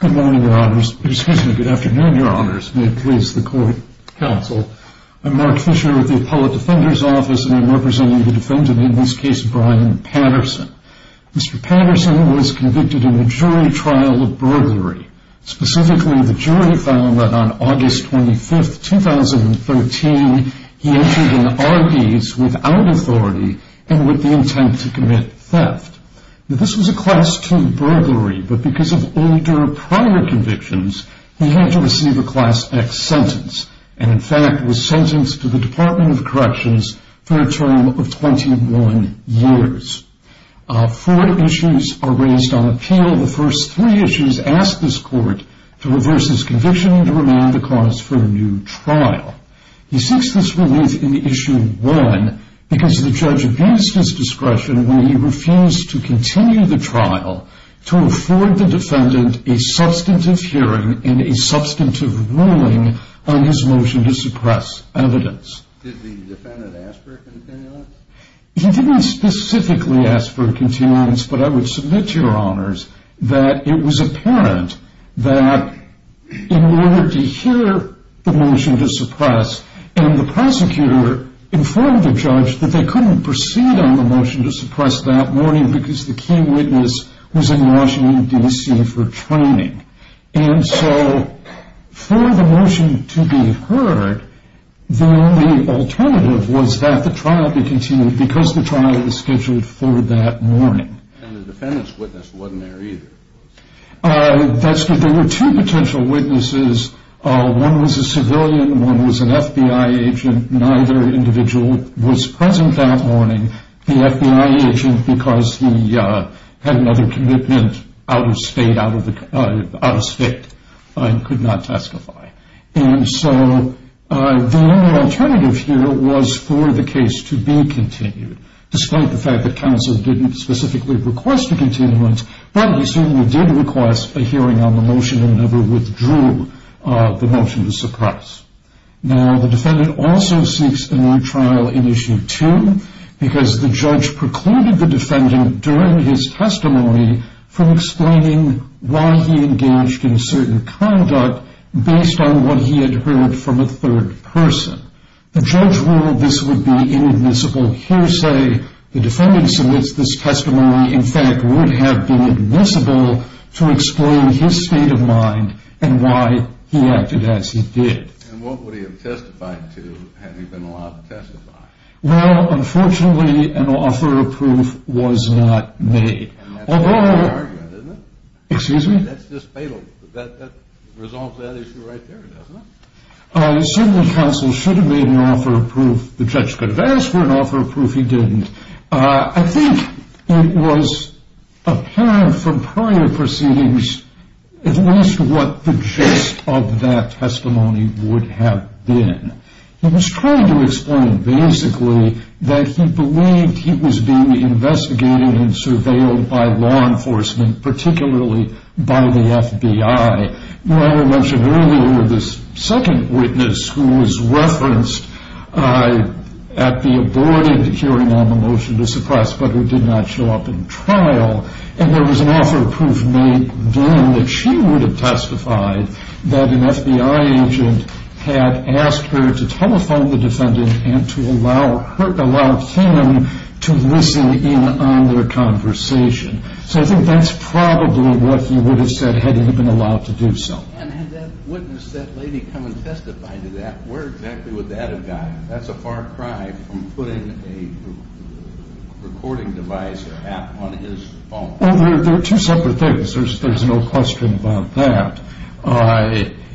Good morning, your honors. Excuse me, good afternoon, your honors. May it please the court. Counsel, I'm Mark Fisher with the Appellate Defender's Office, and I'm representing the defendant, in this case, Brian Patterson. Mr. Patterson was convicted in a jury trial of burglary. Specifically, the jury found that on August 25, 2013, he entered an RDS without authority and with the intent to commit theft. This was a Class II burglary, but because of older, prior convictions, he had to receive a Class X sentence, and in fact was sentenced to the Department of Corrections for a term of 21 years. Four issues are raised on appeal. The first three issues ask this court to reverse his conviction and to remand the cause for a new trial. He seeks this relief in issue one, because the judge abused his discretion when he refused to continue the trial to afford the defendant a substantive hearing and a substantive ruling on his motion to suppress evidence. Did the defendant ask for a continuance? He didn't specifically ask for a continuance, but I would submit to your honors that it was apparent that in order to hear the motion to suppress, and the prosecutor informed the judge that they couldn't proceed on the motion to suppress that morning because the key witness was in Washington, D.C. for training. And so for the motion to be heard, the only alternative was that the trial be continued because the trial was scheduled for that morning. And the defendant's witness wasn't there either. There were two potential witnesses. One was a civilian, one was an FBI agent. Neither individual was present that morning. The FBI agent, because he had another commitment out of state, could not testify. And so the only alternative here was for the case to be continued, despite the fact that counsel didn't specifically request a continuance, but he certainly did request a hearing on the motion and never withdrew the motion to suppress. Now, the defendant also seeks a new trial in issue two, because the judge precluded the defendant during his testimony from explaining why he engaged in certain conduct based on what he had heard from a third person. The judge ruled this would be inadmissible hearsay. The defendant submits this testimony, in fact, would have been admissible to explain his state of mind and why he acted as he did. And what would he have testified to had he been allowed to testify? Well, unfortunately, an offer of proof was not made. And that's a good argument, isn't it? Excuse me? That's just fatal. That resolves that issue right there, doesn't it? Certainly, counsel should have made an offer of proof. The judge could have asked for an offer of proof. He didn't. I think it was apparent from prior proceedings at least what the gist of that testimony would have been. He was trying to explain, basically, that he believed he was being investigated and surveilled by law enforcement, particularly by the FBI. You mentioned earlier this second witness who was referenced at the aborted hearing on the motion to suppress, but who did not show up in trial. And there was an offer of proof made then that she would have testified that an FBI agent had asked her to telephone the defendant and to allow him to listen in on their conversation. So I think that's probably what he would have said had he been allowed to do so. And had that witness, that lady, come and testify to that, where exactly would that have gone? That's a far cry from putting a recording device or app on his phone. Well, they're two separate things. There's no question about that.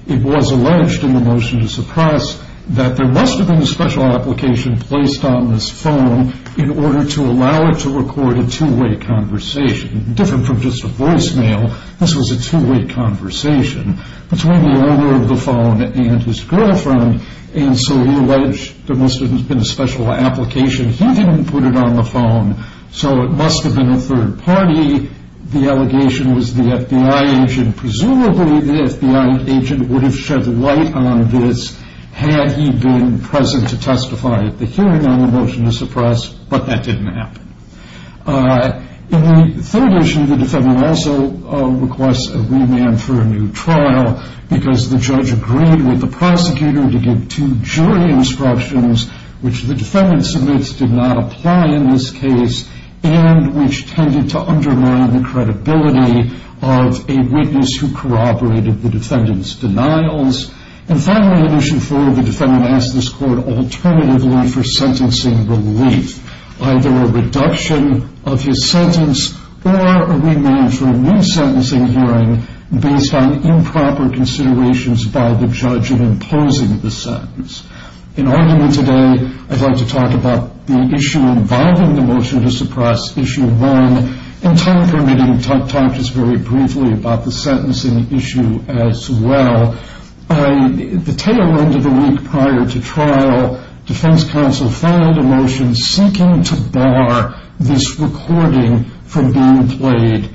It was alleged in the motion to suppress that there must have been a special application placed on his phone in order to allow her to record a two-way conversation. Different from just a voicemail, this was a two-way conversation between the owner of the phone and his girlfriend. And so he alleged there must have been a special application. He didn't put it on the phone, so it must have been a third party. The allegation was the FBI agent. Presumably the FBI agent would have shed light on this had he been present to testify at the hearing on the motion to suppress, but that didn't happen. In the third issue, the defendant also requests a remand for a new trial because the judge agreed with the prosecutor to give two jury instructions, which the defendant submits did not apply in this case and which tended to undermine the credibility of a witness who corroborated the defendant's denials. And finally, in issue four, the defendant asks this court alternatively for sentencing relief, either a reduction of his sentence or a remand for a new sentencing hearing based on improper considerations by the judge in imposing the sentence. In argument today, I'd like to talk about the issue involving the motion to suppress, issue one. In time permitting, I'll talk just very briefly about the sentencing issue as well. At the tail end of the week prior to trial, defense counsel filed a motion seeking to bar this recording from being played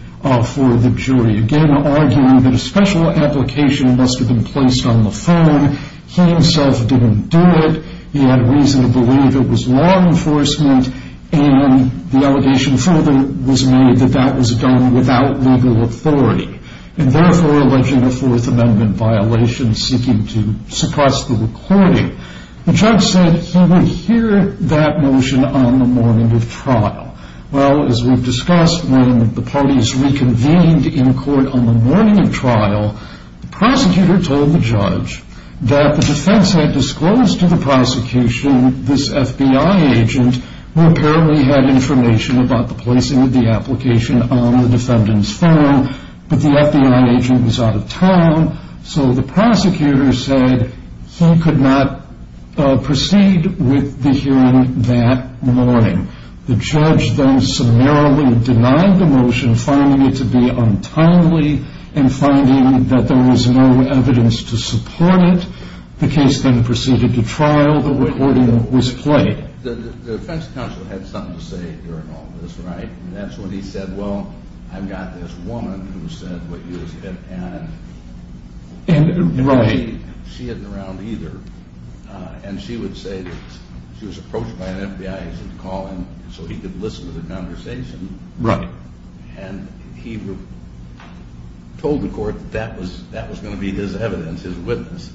for the jury, again arguing that a special application must have been placed on the phone. He himself didn't do it. He had reason to believe it was law enforcement, and the allegation further was made that that was done without legal authority and therefore alleging a Fourth Amendment violation seeking to suppress the recording. The judge said he would hear that motion on the morning of trial. Well, as we've discussed, when the parties reconvened in court on the morning of trial, the prosecutor told the judge that the defense had disclosed to the prosecution this FBI agent who apparently had information about the placing of the application on the defendant's phone, but the FBI agent was out of town, so the prosecutor said he could not proceed with the hearing that morning. The judge then summarily denied the motion, finding it to be untimely and finding that there was no evidence to support it. The case then proceeded to trial. The recording was played. The defense counsel had something to say during all this, right? That's when he said, well, I've got this woman who said what you just said, and she isn't around either, and she would say that she was approached by an FBI agent to call him so he could listen to the conversation. Right. And he told the court that that was going to be his evidence, his witness.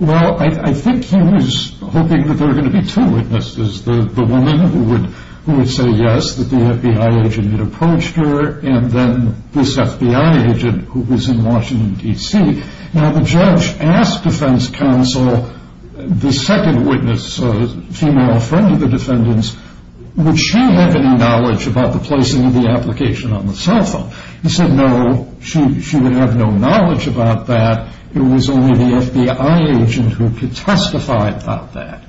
Well, I think he was hoping that there were going to be two witnesses, the woman who would say yes, that the FBI agent had approached her, and then this FBI agent who was in Washington, D.C. Now, the judge asked defense counsel, the second witness, a female friend of the defendant's, would she have any knowledge about the placing of the application on the cell phone? He said no, she would have no knowledge about that. It was only the FBI agent who could testify about that.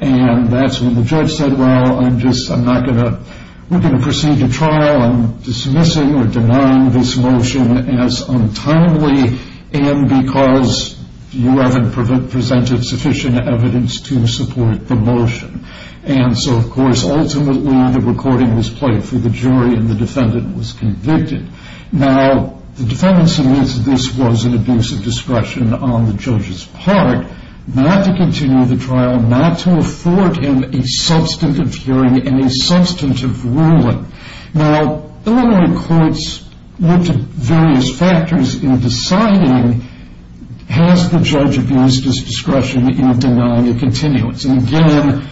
And that's when the judge said, well, I'm just, I'm not going to, we're going to proceed to trial. I'm dismissing or denying this motion as untimely, and because you haven't presented sufficient evidence to support the motion. And so, of course, ultimately the recording was played for the jury, and the defendant was convicted. Now, the defendant suggested this was an abuse of discretion on the judge's part, not to continue the trial, not to afford him a substantive hearing and a substantive ruling. Now, Illinois courts looked at various factors in deciding, has the judge abused his discretion in denying a continuance? And again,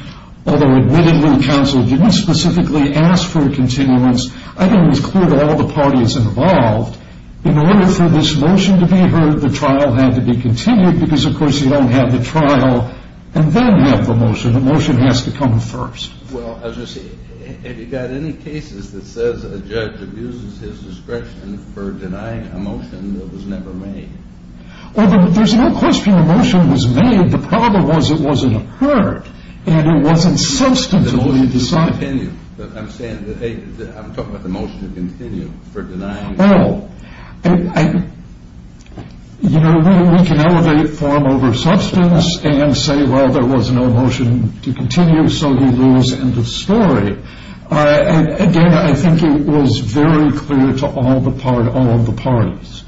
although admittedly counsel didn't specifically ask for a continuance, I think it was clear to all the parties involved, in order for this motion to be heard, the trial had to be continued, because, of course, you don't have the trial and then have the motion. The motion has to come first. Well, I was just, have you got any cases that says a judge abuses his discretion for denying a motion that was never made? Well, there's no question a motion was made. The problem was it wasn't heard, and it wasn't substantively decided. I'm saying that, hey, I'm talking about the motion to continue for denying. Well, you know, we can elevate form over substance and say, well, there was no motion to continue, so you lose end of story. Again, I think it was very clear to all the parties.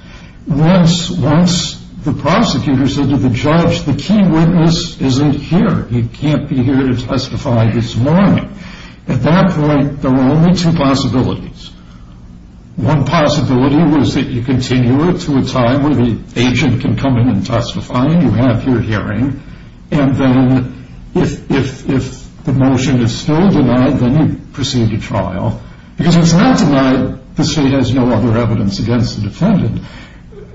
Once the prosecutor said to the judge, the key witness isn't here. He can't be here to testify this morning. At that point, there were only two possibilities. One possibility was that you continue it to a time where the agent can come in and testify and you have your hearing, and then if the motion is still denied, then you proceed to trial. Because if it's not denied, the state has no other evidence against the defendant.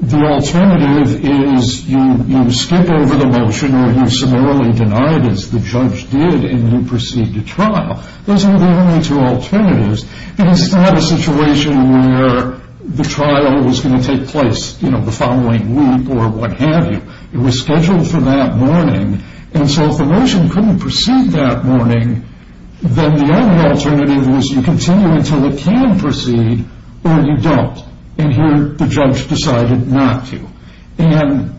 The alternative is you skip over the motion or you're summarily denied, as the judge did, and you proceed to trial. Those are the only two alternatives, because it's not a situation where the trial was going to take place, you know, the following week or what have you. It was scheduled for that morning. And so if the motion couldn't proceed that morning, then the only alternative is you continue until it can proceed or you don't. And here the judge decided not to. And,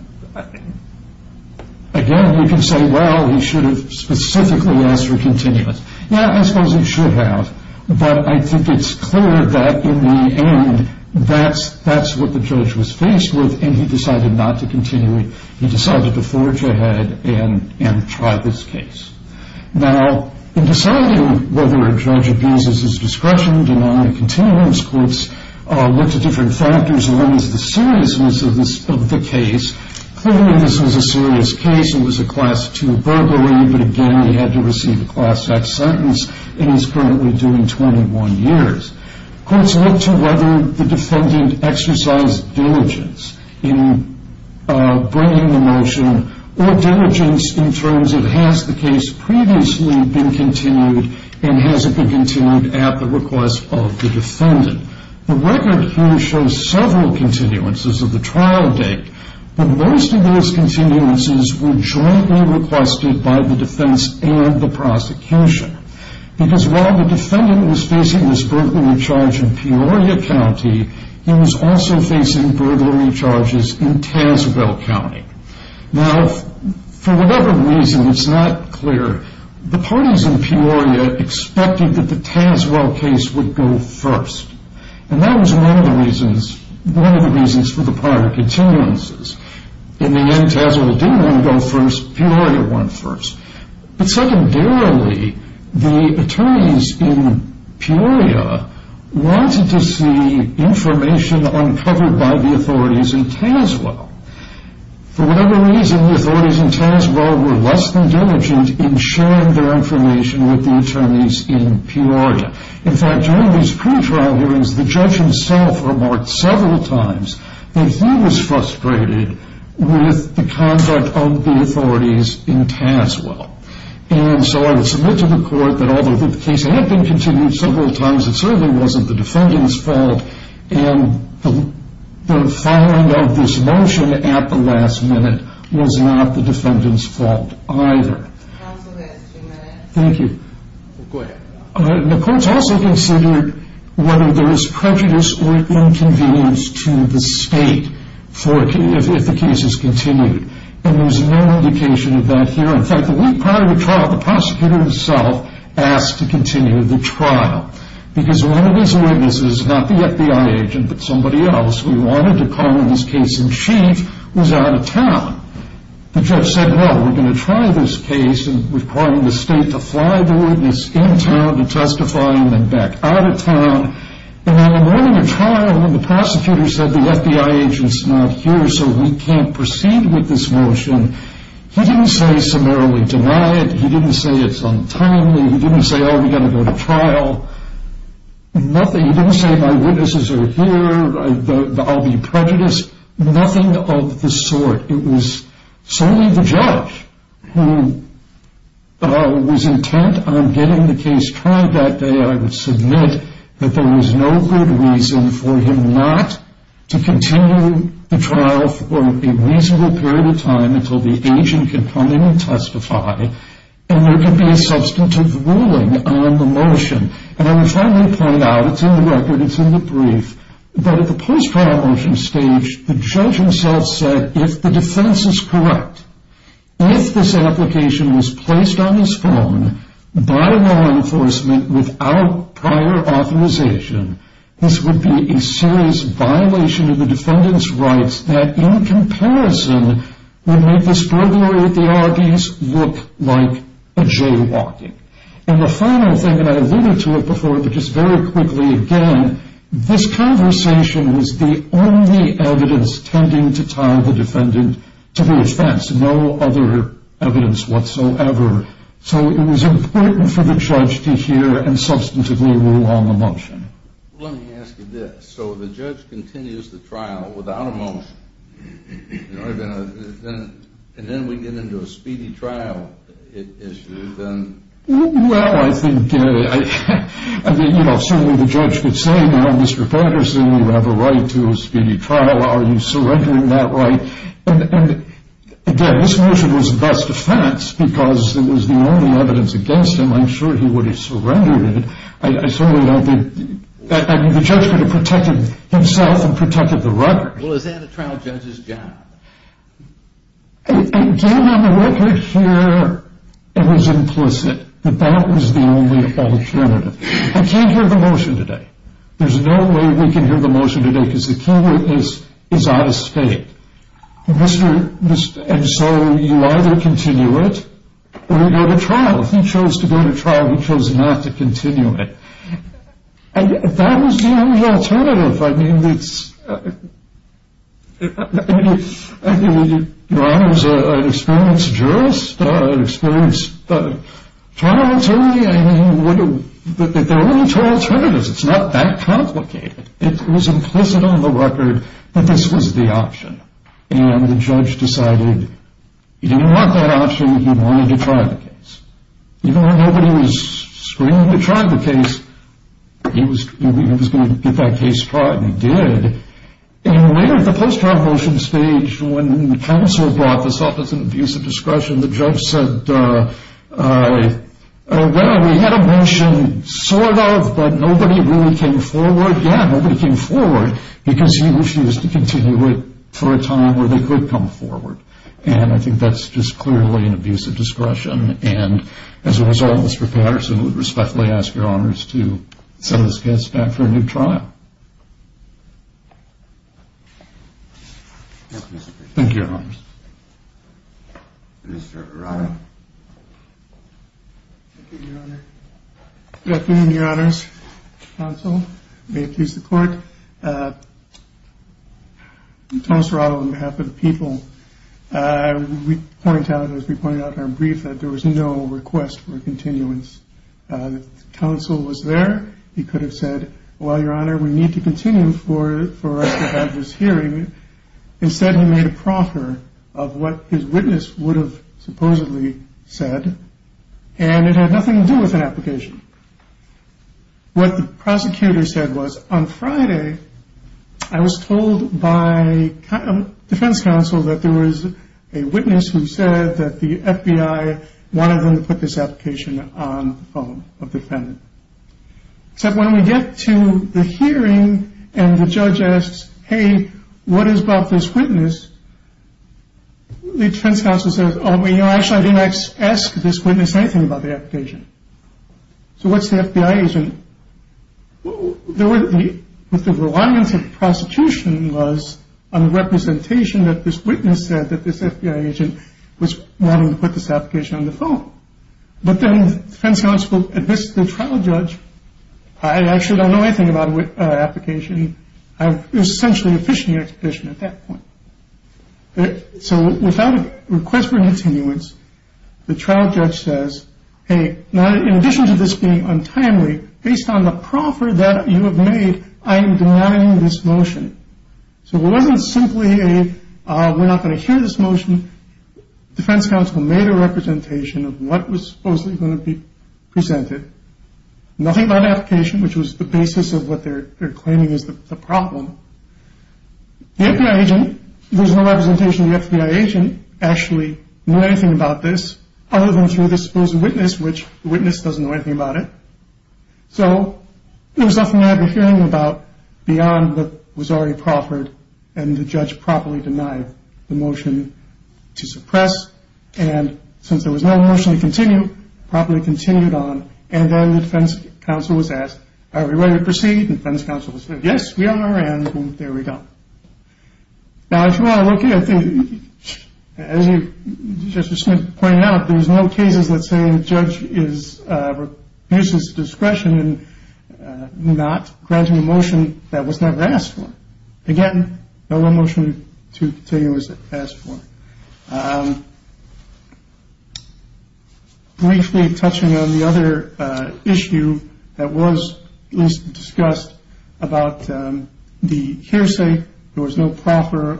again, you can say, well, he should have specifically asked for continuance. Yeah, I suppose he should have, but I think it's clear that, in the end, that's what the judge was faced with, and he decided not to continue it. He decided to forge ahead and try this case. Now, in deciding whether a judge abuses his discretion, denying a continuance, courts looked at different factors. One is the seriousness of the case. Clearly, this was a serious case. It was a Class II burglary, but, again, he had to receive a Class X sentence, and he's currently doing 21 years. Courts looked to whether the defendant exercised diligence in bringing the motion or diligence in terms of has the case previously been continued and has it been continued at the request of the defendant. The record here shows several continuances of the trial date, but most of those continuances were jointly requested by the defense and the prosecution because while the defendant was facing this burglary charge in Peoria County, he was also facing burglary charges in Tazewell County. Now, for whatever reason, it's not clear. The parties in Peoria expected that the Tazewell case would go first, and that was one of the reasons for the prior continuances. In the end, Tazewell didn't want to go first. Peoria went first. But secondarily, the attorneys in Peoria wanted to see information uncovered by the authorities in Tazewell. For whatever reason, the authorities in Tazewell were less than diligent in sharing their information with the attorneys in Peoria. In fact, during these pretrial hearings, the judge himself remarked several times that he was frustrated with the conduct of the authorities in Tazewell. And so I would submit to the court that although the case had been continued several times, it certainly wasn't the defendant's fault, and the filing of this motion at the last minute was not the defendant's fault either. Thank you. The court also considered whether there was prejudice or inconvenience to the state if the case is continued, and there's no indication of that here. In fact, the week prior to the trial, the prosecutor himself asked to continue the trial because one of his witnesses, not the FBI agent but somebody else, who he wanted to call in this case in chief, was out of town. The judge said, well, we're going to try this case and requiring the state to fly the witness in town to testify and then back out of town. And on the morning of trial when the prosecutor said the FBI agent's not here so we can't proceed with this motion, he didn't say summarily deny it. He didn't say it's untimely. He didn't say, oh, we've got to go to trial. He didn't say my witnesses are here. I'll be prejudiced. Nothing of the sort. It was solely the judge who was intent on getting the case tried that day. I would submit that there was no good reason for him not to continue the trial for a reasonable period of time until the agent can come in and testify, and there can be a substantive ruling on the motion. And I would finally point out, it's in the record, it's in the brief, but at the post-trial motion stage, the judge himself said, if the defense is correct, if this application was placed on his phone by law enforcement without prior authorization, this would be a serious violation of the defendant's rights that, in comparison, would make the strugglery at the Arby's look like a jaywalking. And the final thing, and I alluded to it before but just very quickly again, this conversation was the only evidence tending to tie the defendant to his defense, no other evidence whatsoever. So it was important for the judge to hear and substantively rule on the motion. Let me ask you this. So the judge continues the trial without a motion, and then we get into a speedy trial issue, then? Well, I think certainly the judge could say, well, Mr. Patterson, you have a right to a speedy trial. Are you surrendering that right? And, again, this motion was a best defense because it was the only evidence against him. I'm sure he would have surrendered it. I certainly don't think the judge could have protected himself and protected the record. Well, is that a trial judge's job? Again, on the record here, it was implicit that that was the only alternative. I can't hear the motion today. There's no way we can hear the motion today because the keyword is out of state. And so you either continue it or you go to trial. If he chose to go to trial, he chose not to continue it. That was the only alternative. I mean, it's—I mean, your Honor, as an experienced jurist, an experienced trial attorney, I mean, there are only two alternatives. It's not that complicated. It was implicit on the record that this was the option, and the judge decided he didn't want that option. He wanted to try the case. Even when nobody was screaming to try the case, he was going to get that case tried, and he did. And later at the post-trial motion stage, when the counsel brought this up as an abuse of discretion, the judge said, well, we had a motion sort of, but nobody really came forward. Yeah, nobody came forward because he wished he was to continue it for a time where they could come forward. And I think that's just clearly an abuse of discretion. And as a result, Mr. Patterson would respectfully ask your Honors to send this case back for a new trial. Thank you, Your Honors. Mr. Arado. Thank you, Your Honor. Good afternoon, Your Honors. Counsel. May it please the Court. Mr. Arado, on behalf of the people, I would point out, as we pointed out in our brief, that there was no request for a continuance. The counsel was there. He could have said, well, Your Honor, we need to continue for this hearing. Instead, he made a proffer of what his witness would have supposedly said, and it had nothing to do with an application. What the prosecutor said was, on Friday, I was told by defense counsel that there was a witness who said that the FBI wanted them to put this application on the phone of the defendant. Except when we get to the hearing and the judge asks, hey, what is about this witness? The defense counsel says, oh, actually, I didn't ask this witness anything about the application. So what's the FBI agent? What the reliance of the prosecution was on the representation that this witness said that this FBI agent was wanting to put this application on the phone. But then the defense counsel admits to the trial judge, I actually don't know anything about the application. It was essentially a fishing expedition at that point. So without a request for continuance, the trial judge says, hey, in addition to this being untimely, based on the proffer that you have made, I am denying this motion. So it wasn't simply a we're not going to hear this motion. Defense counsel made a representation of what was supposedly going to be presented. Nothing about the application, which was the basis of what they're claiming is the problem. The FBI agent, there's no representation of the FBI agent, actually knew anything about this, other than through this supposed witness, which the witness doesn't know anything about it. So there was nothing that we're hearing about beyond what was already proffered, And since there was no motion to continue, it probably continued on. And then the defense counsel was asked, are we ready to proceed? And the defense counsel said, yes, we are. And there we go. Now, if you want to look at it, as you just pointed out, there's no cases that say the judge uses discretion in not granting a motion that was never asked for. Again, no motion to continue as asked for. Briefly touching on the other issue that was discussed about the hearsay. There was no proper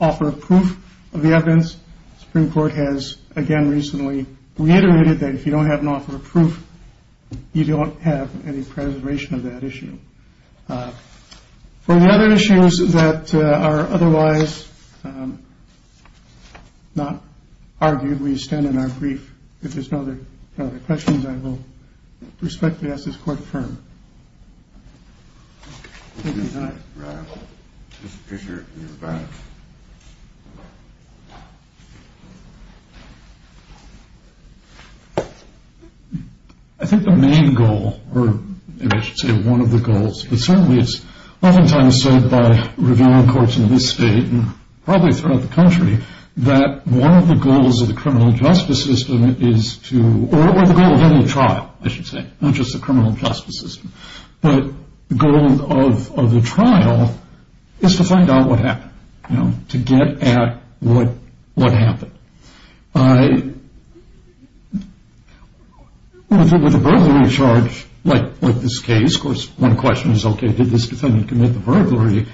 offer of proof of the evidence. Supreme Court has again recently reiterated that if you don't have an offer of proof, you don't have any preservation of that issue. For the other issues that are otherwise not argued, we stand in our brief. If there's no other questions, I will respectfully ask this court to affirm. I think the main goal, or maybe I should say one of the goals, but certainly it's oftentimes said by revealing courts in this state and probably throughout the country that one of the goals of the criminal justice system is to, or the goal of any trial, I should say, not just the criminal justice system. But the goal of the trial is to find out what happened, to get at what happened. With a burglary charge like this case, of course, one question is, okay, did this defendant commit the burglary?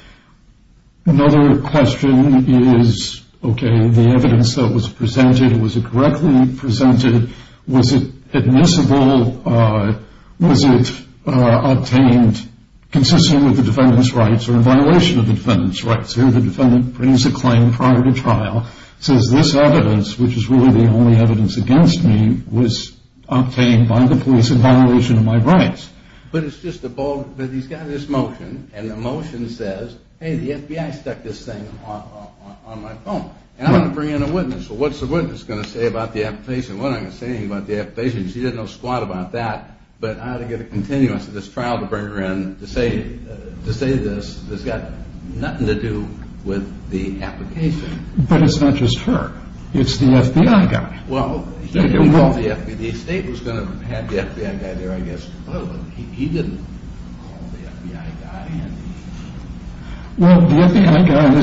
Another question is, okay, the evidence that was presented, was it correctly presented? Was it admissible? Was it obtained consistent with the defendant's rights or in violation of the defendant's rights? Here the defendant brings a claim prior to trial, says this evidence, which is really the only evidence against me, was obtained by the police in violation of my rights. But it's just a bold, he's got this motion, and the motion says, hey, the FBI stuck this thing on my phone. And I'm going to bring in a witness. Well, what's the witness going to say about the application? What am I going to say to him about the application? Because he doesn't know squat about that. But I ought to get a continuance of this trial to bring her in to say this. It's got nothing to do with the application. But it's not just her. It's the FBI guy. Well, he didn't call the FBI. The state was going to have the FBI guy there, I guess. But he didn't call the FBI guy. Well, the FBI guy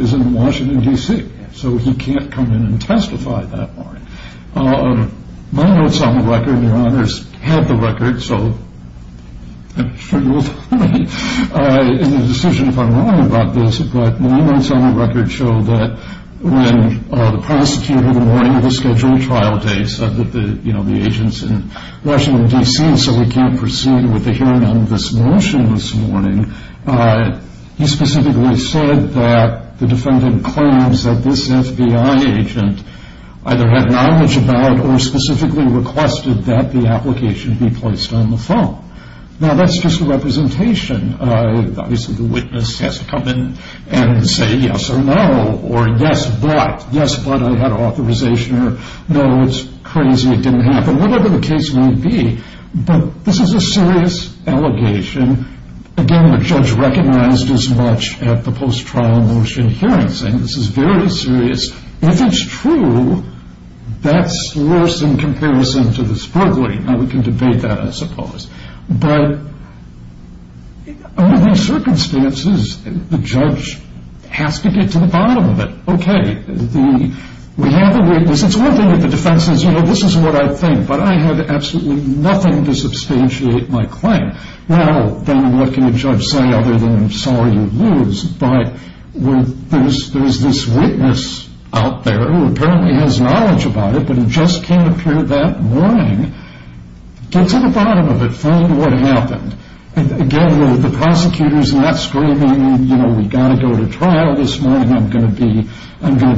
is in Washington, D.C., so he can't come in and testify that morning. My notes on the record, and Your Honor's had the record, so I'm sure you will find me in the decision if I'm wrong about this, but my notes on the record show that when the prosecutor, the morning of the scheduled trial day, said that the agent's in Washington, D.C., so he can't proceed with the hearing on this motion this morning, he specifically said that the defendant claims that this FBI agent either had knowledge about or specifically requested that the application be placed on the phone. Now, that's just a representation. Obviously, the witness has to come in and say yes or no, or yes, but. I had authorization, or no, it's crazy, it didn't happen, whatever the case may be. But this is a serious allegation. Again, the judge recognized as much at the post-trial motion hearing, saying this is very serious. If it's true, that's worse in comparison to the spurgling. Now, we can debate that, I suppose. But under these circumstances, the judge has to get to the bottom of it. Okay, we have a witness. It's one thing that the defense says, you know, this is what I think, but I have absolutely nothing to substantiate my claim. Now, then what can a judge say other than I'm sorry you lose? But there's this witness out there who apparently has knowledge about it, but he just came through that morning. Get to the bottom of it. Find what happened. Again, the prosecutor's not screaming, you know, we've got to go to trial this morning, I'm going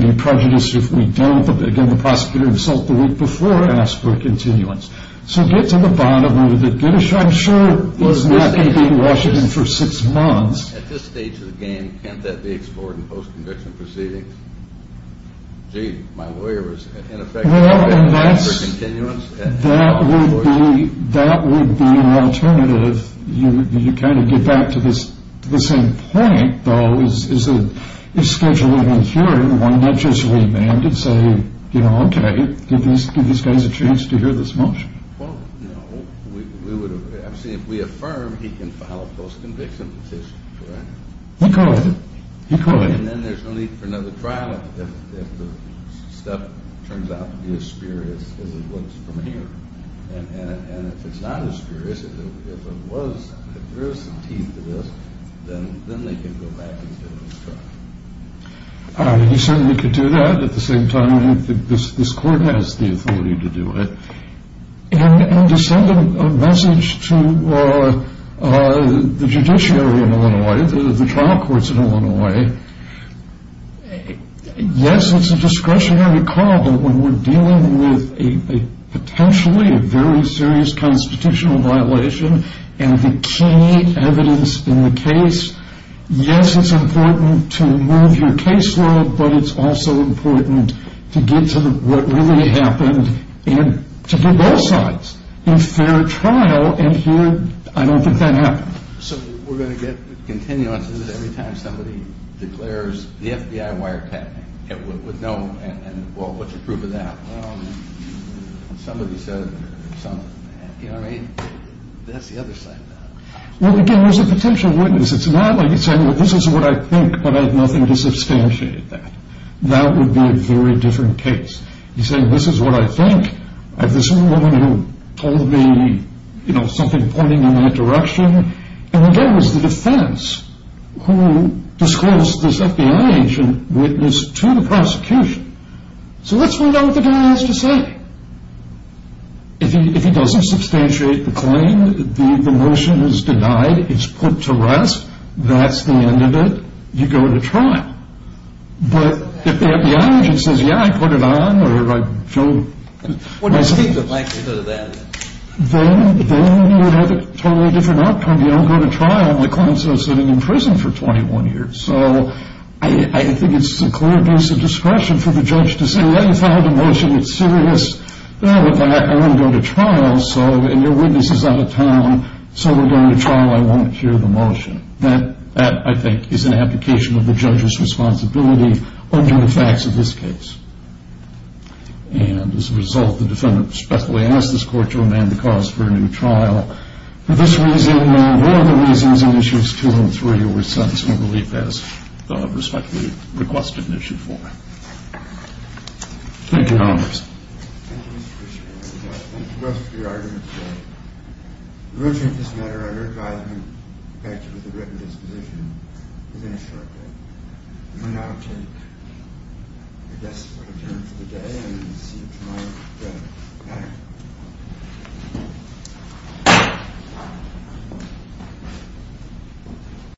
to be prejudiced if we don't. Again, the prosecutor himself the week before asked for a continuance. So get to the bottom of it. I'm sure it was not going to be in Washington for six months. At this stage of the game, can't that be explored in post-conviction proceedings? Gee, my lawyer was ineffective. Well, that would be an alternative. You kind of get back to the same point, though, is scheduling a hearing, one not just remanded, say, you know, okay, give these guys a chance to hear this motion. Well, no. See, if we affirm, he can file a post-conviction petition, correct? He could. He could. And then there's no need for another trial if the stuff turns out to be as spurious as it looks from here. And if it's not as spurious, if there is some teeth to this, then they can go back and do another trial. He certainly could do that. At the same time, I don't think this court has the authority to do it. And to send a message to the judiciary in Illinois, the trial courts in Illinois, yes, it's a discretionary call, but when we're dealing with potentially a very serious constitutional violation and the key evidence in the case, yes, it's important to move your case law, but it's also important to get to what really happened and to give both sides a fair trial. And here, I don't think that happened. So we're going to get continuances every time somebody declares the FBI wiretapping. Well, what's the proof of that? Well, somebody said something. You know what I mean? That's the other side of that. Well, again, there's a potential witness. It's not like he's saying, well, this is what I think, but I have nothing to substantiate that. That would be a very different case. He's saying, this is what I think. This is the woman who told me, you know, something pointing in that direction. And again, it was the defense who disclosed this FBI agent witness to the prosecution. So let's find out what the guy has to say. If he doesn't substantiate the claim, the motion is denied, it's put to rest, that's the end of it, you go to trial. But if the FBI agent says, yeah, I put it on, or I don't. What do you think the likelihood of that is? Then you would have a totally different outcome. You don't go to trial. My client's been sitting in prison for 21 years. So I think it's a clear case of discretion for the judge to say, well, you filed a motion. It's serious. Well, with that, I won't go to trial. And your witness is out of town, so we're going to trial. I won't hear the motion. That, I think, is an application of the judge's responsibility under the facts of this case. And as a result, the defendant respectfully asks this court to amend the cause for a new trial. For this reason and other reasons, Issues 2 and 3 were sentencing relief as requested in Issue 4. Thank you, Your Honor. Thank you, Mr. Krishnamurti. Thank you both for your arguments today. We will take this matter under advisement. In fact, it was a written disposition within a short time. We will now take, I guess, a turn for the day and see you tomorrow. Good night.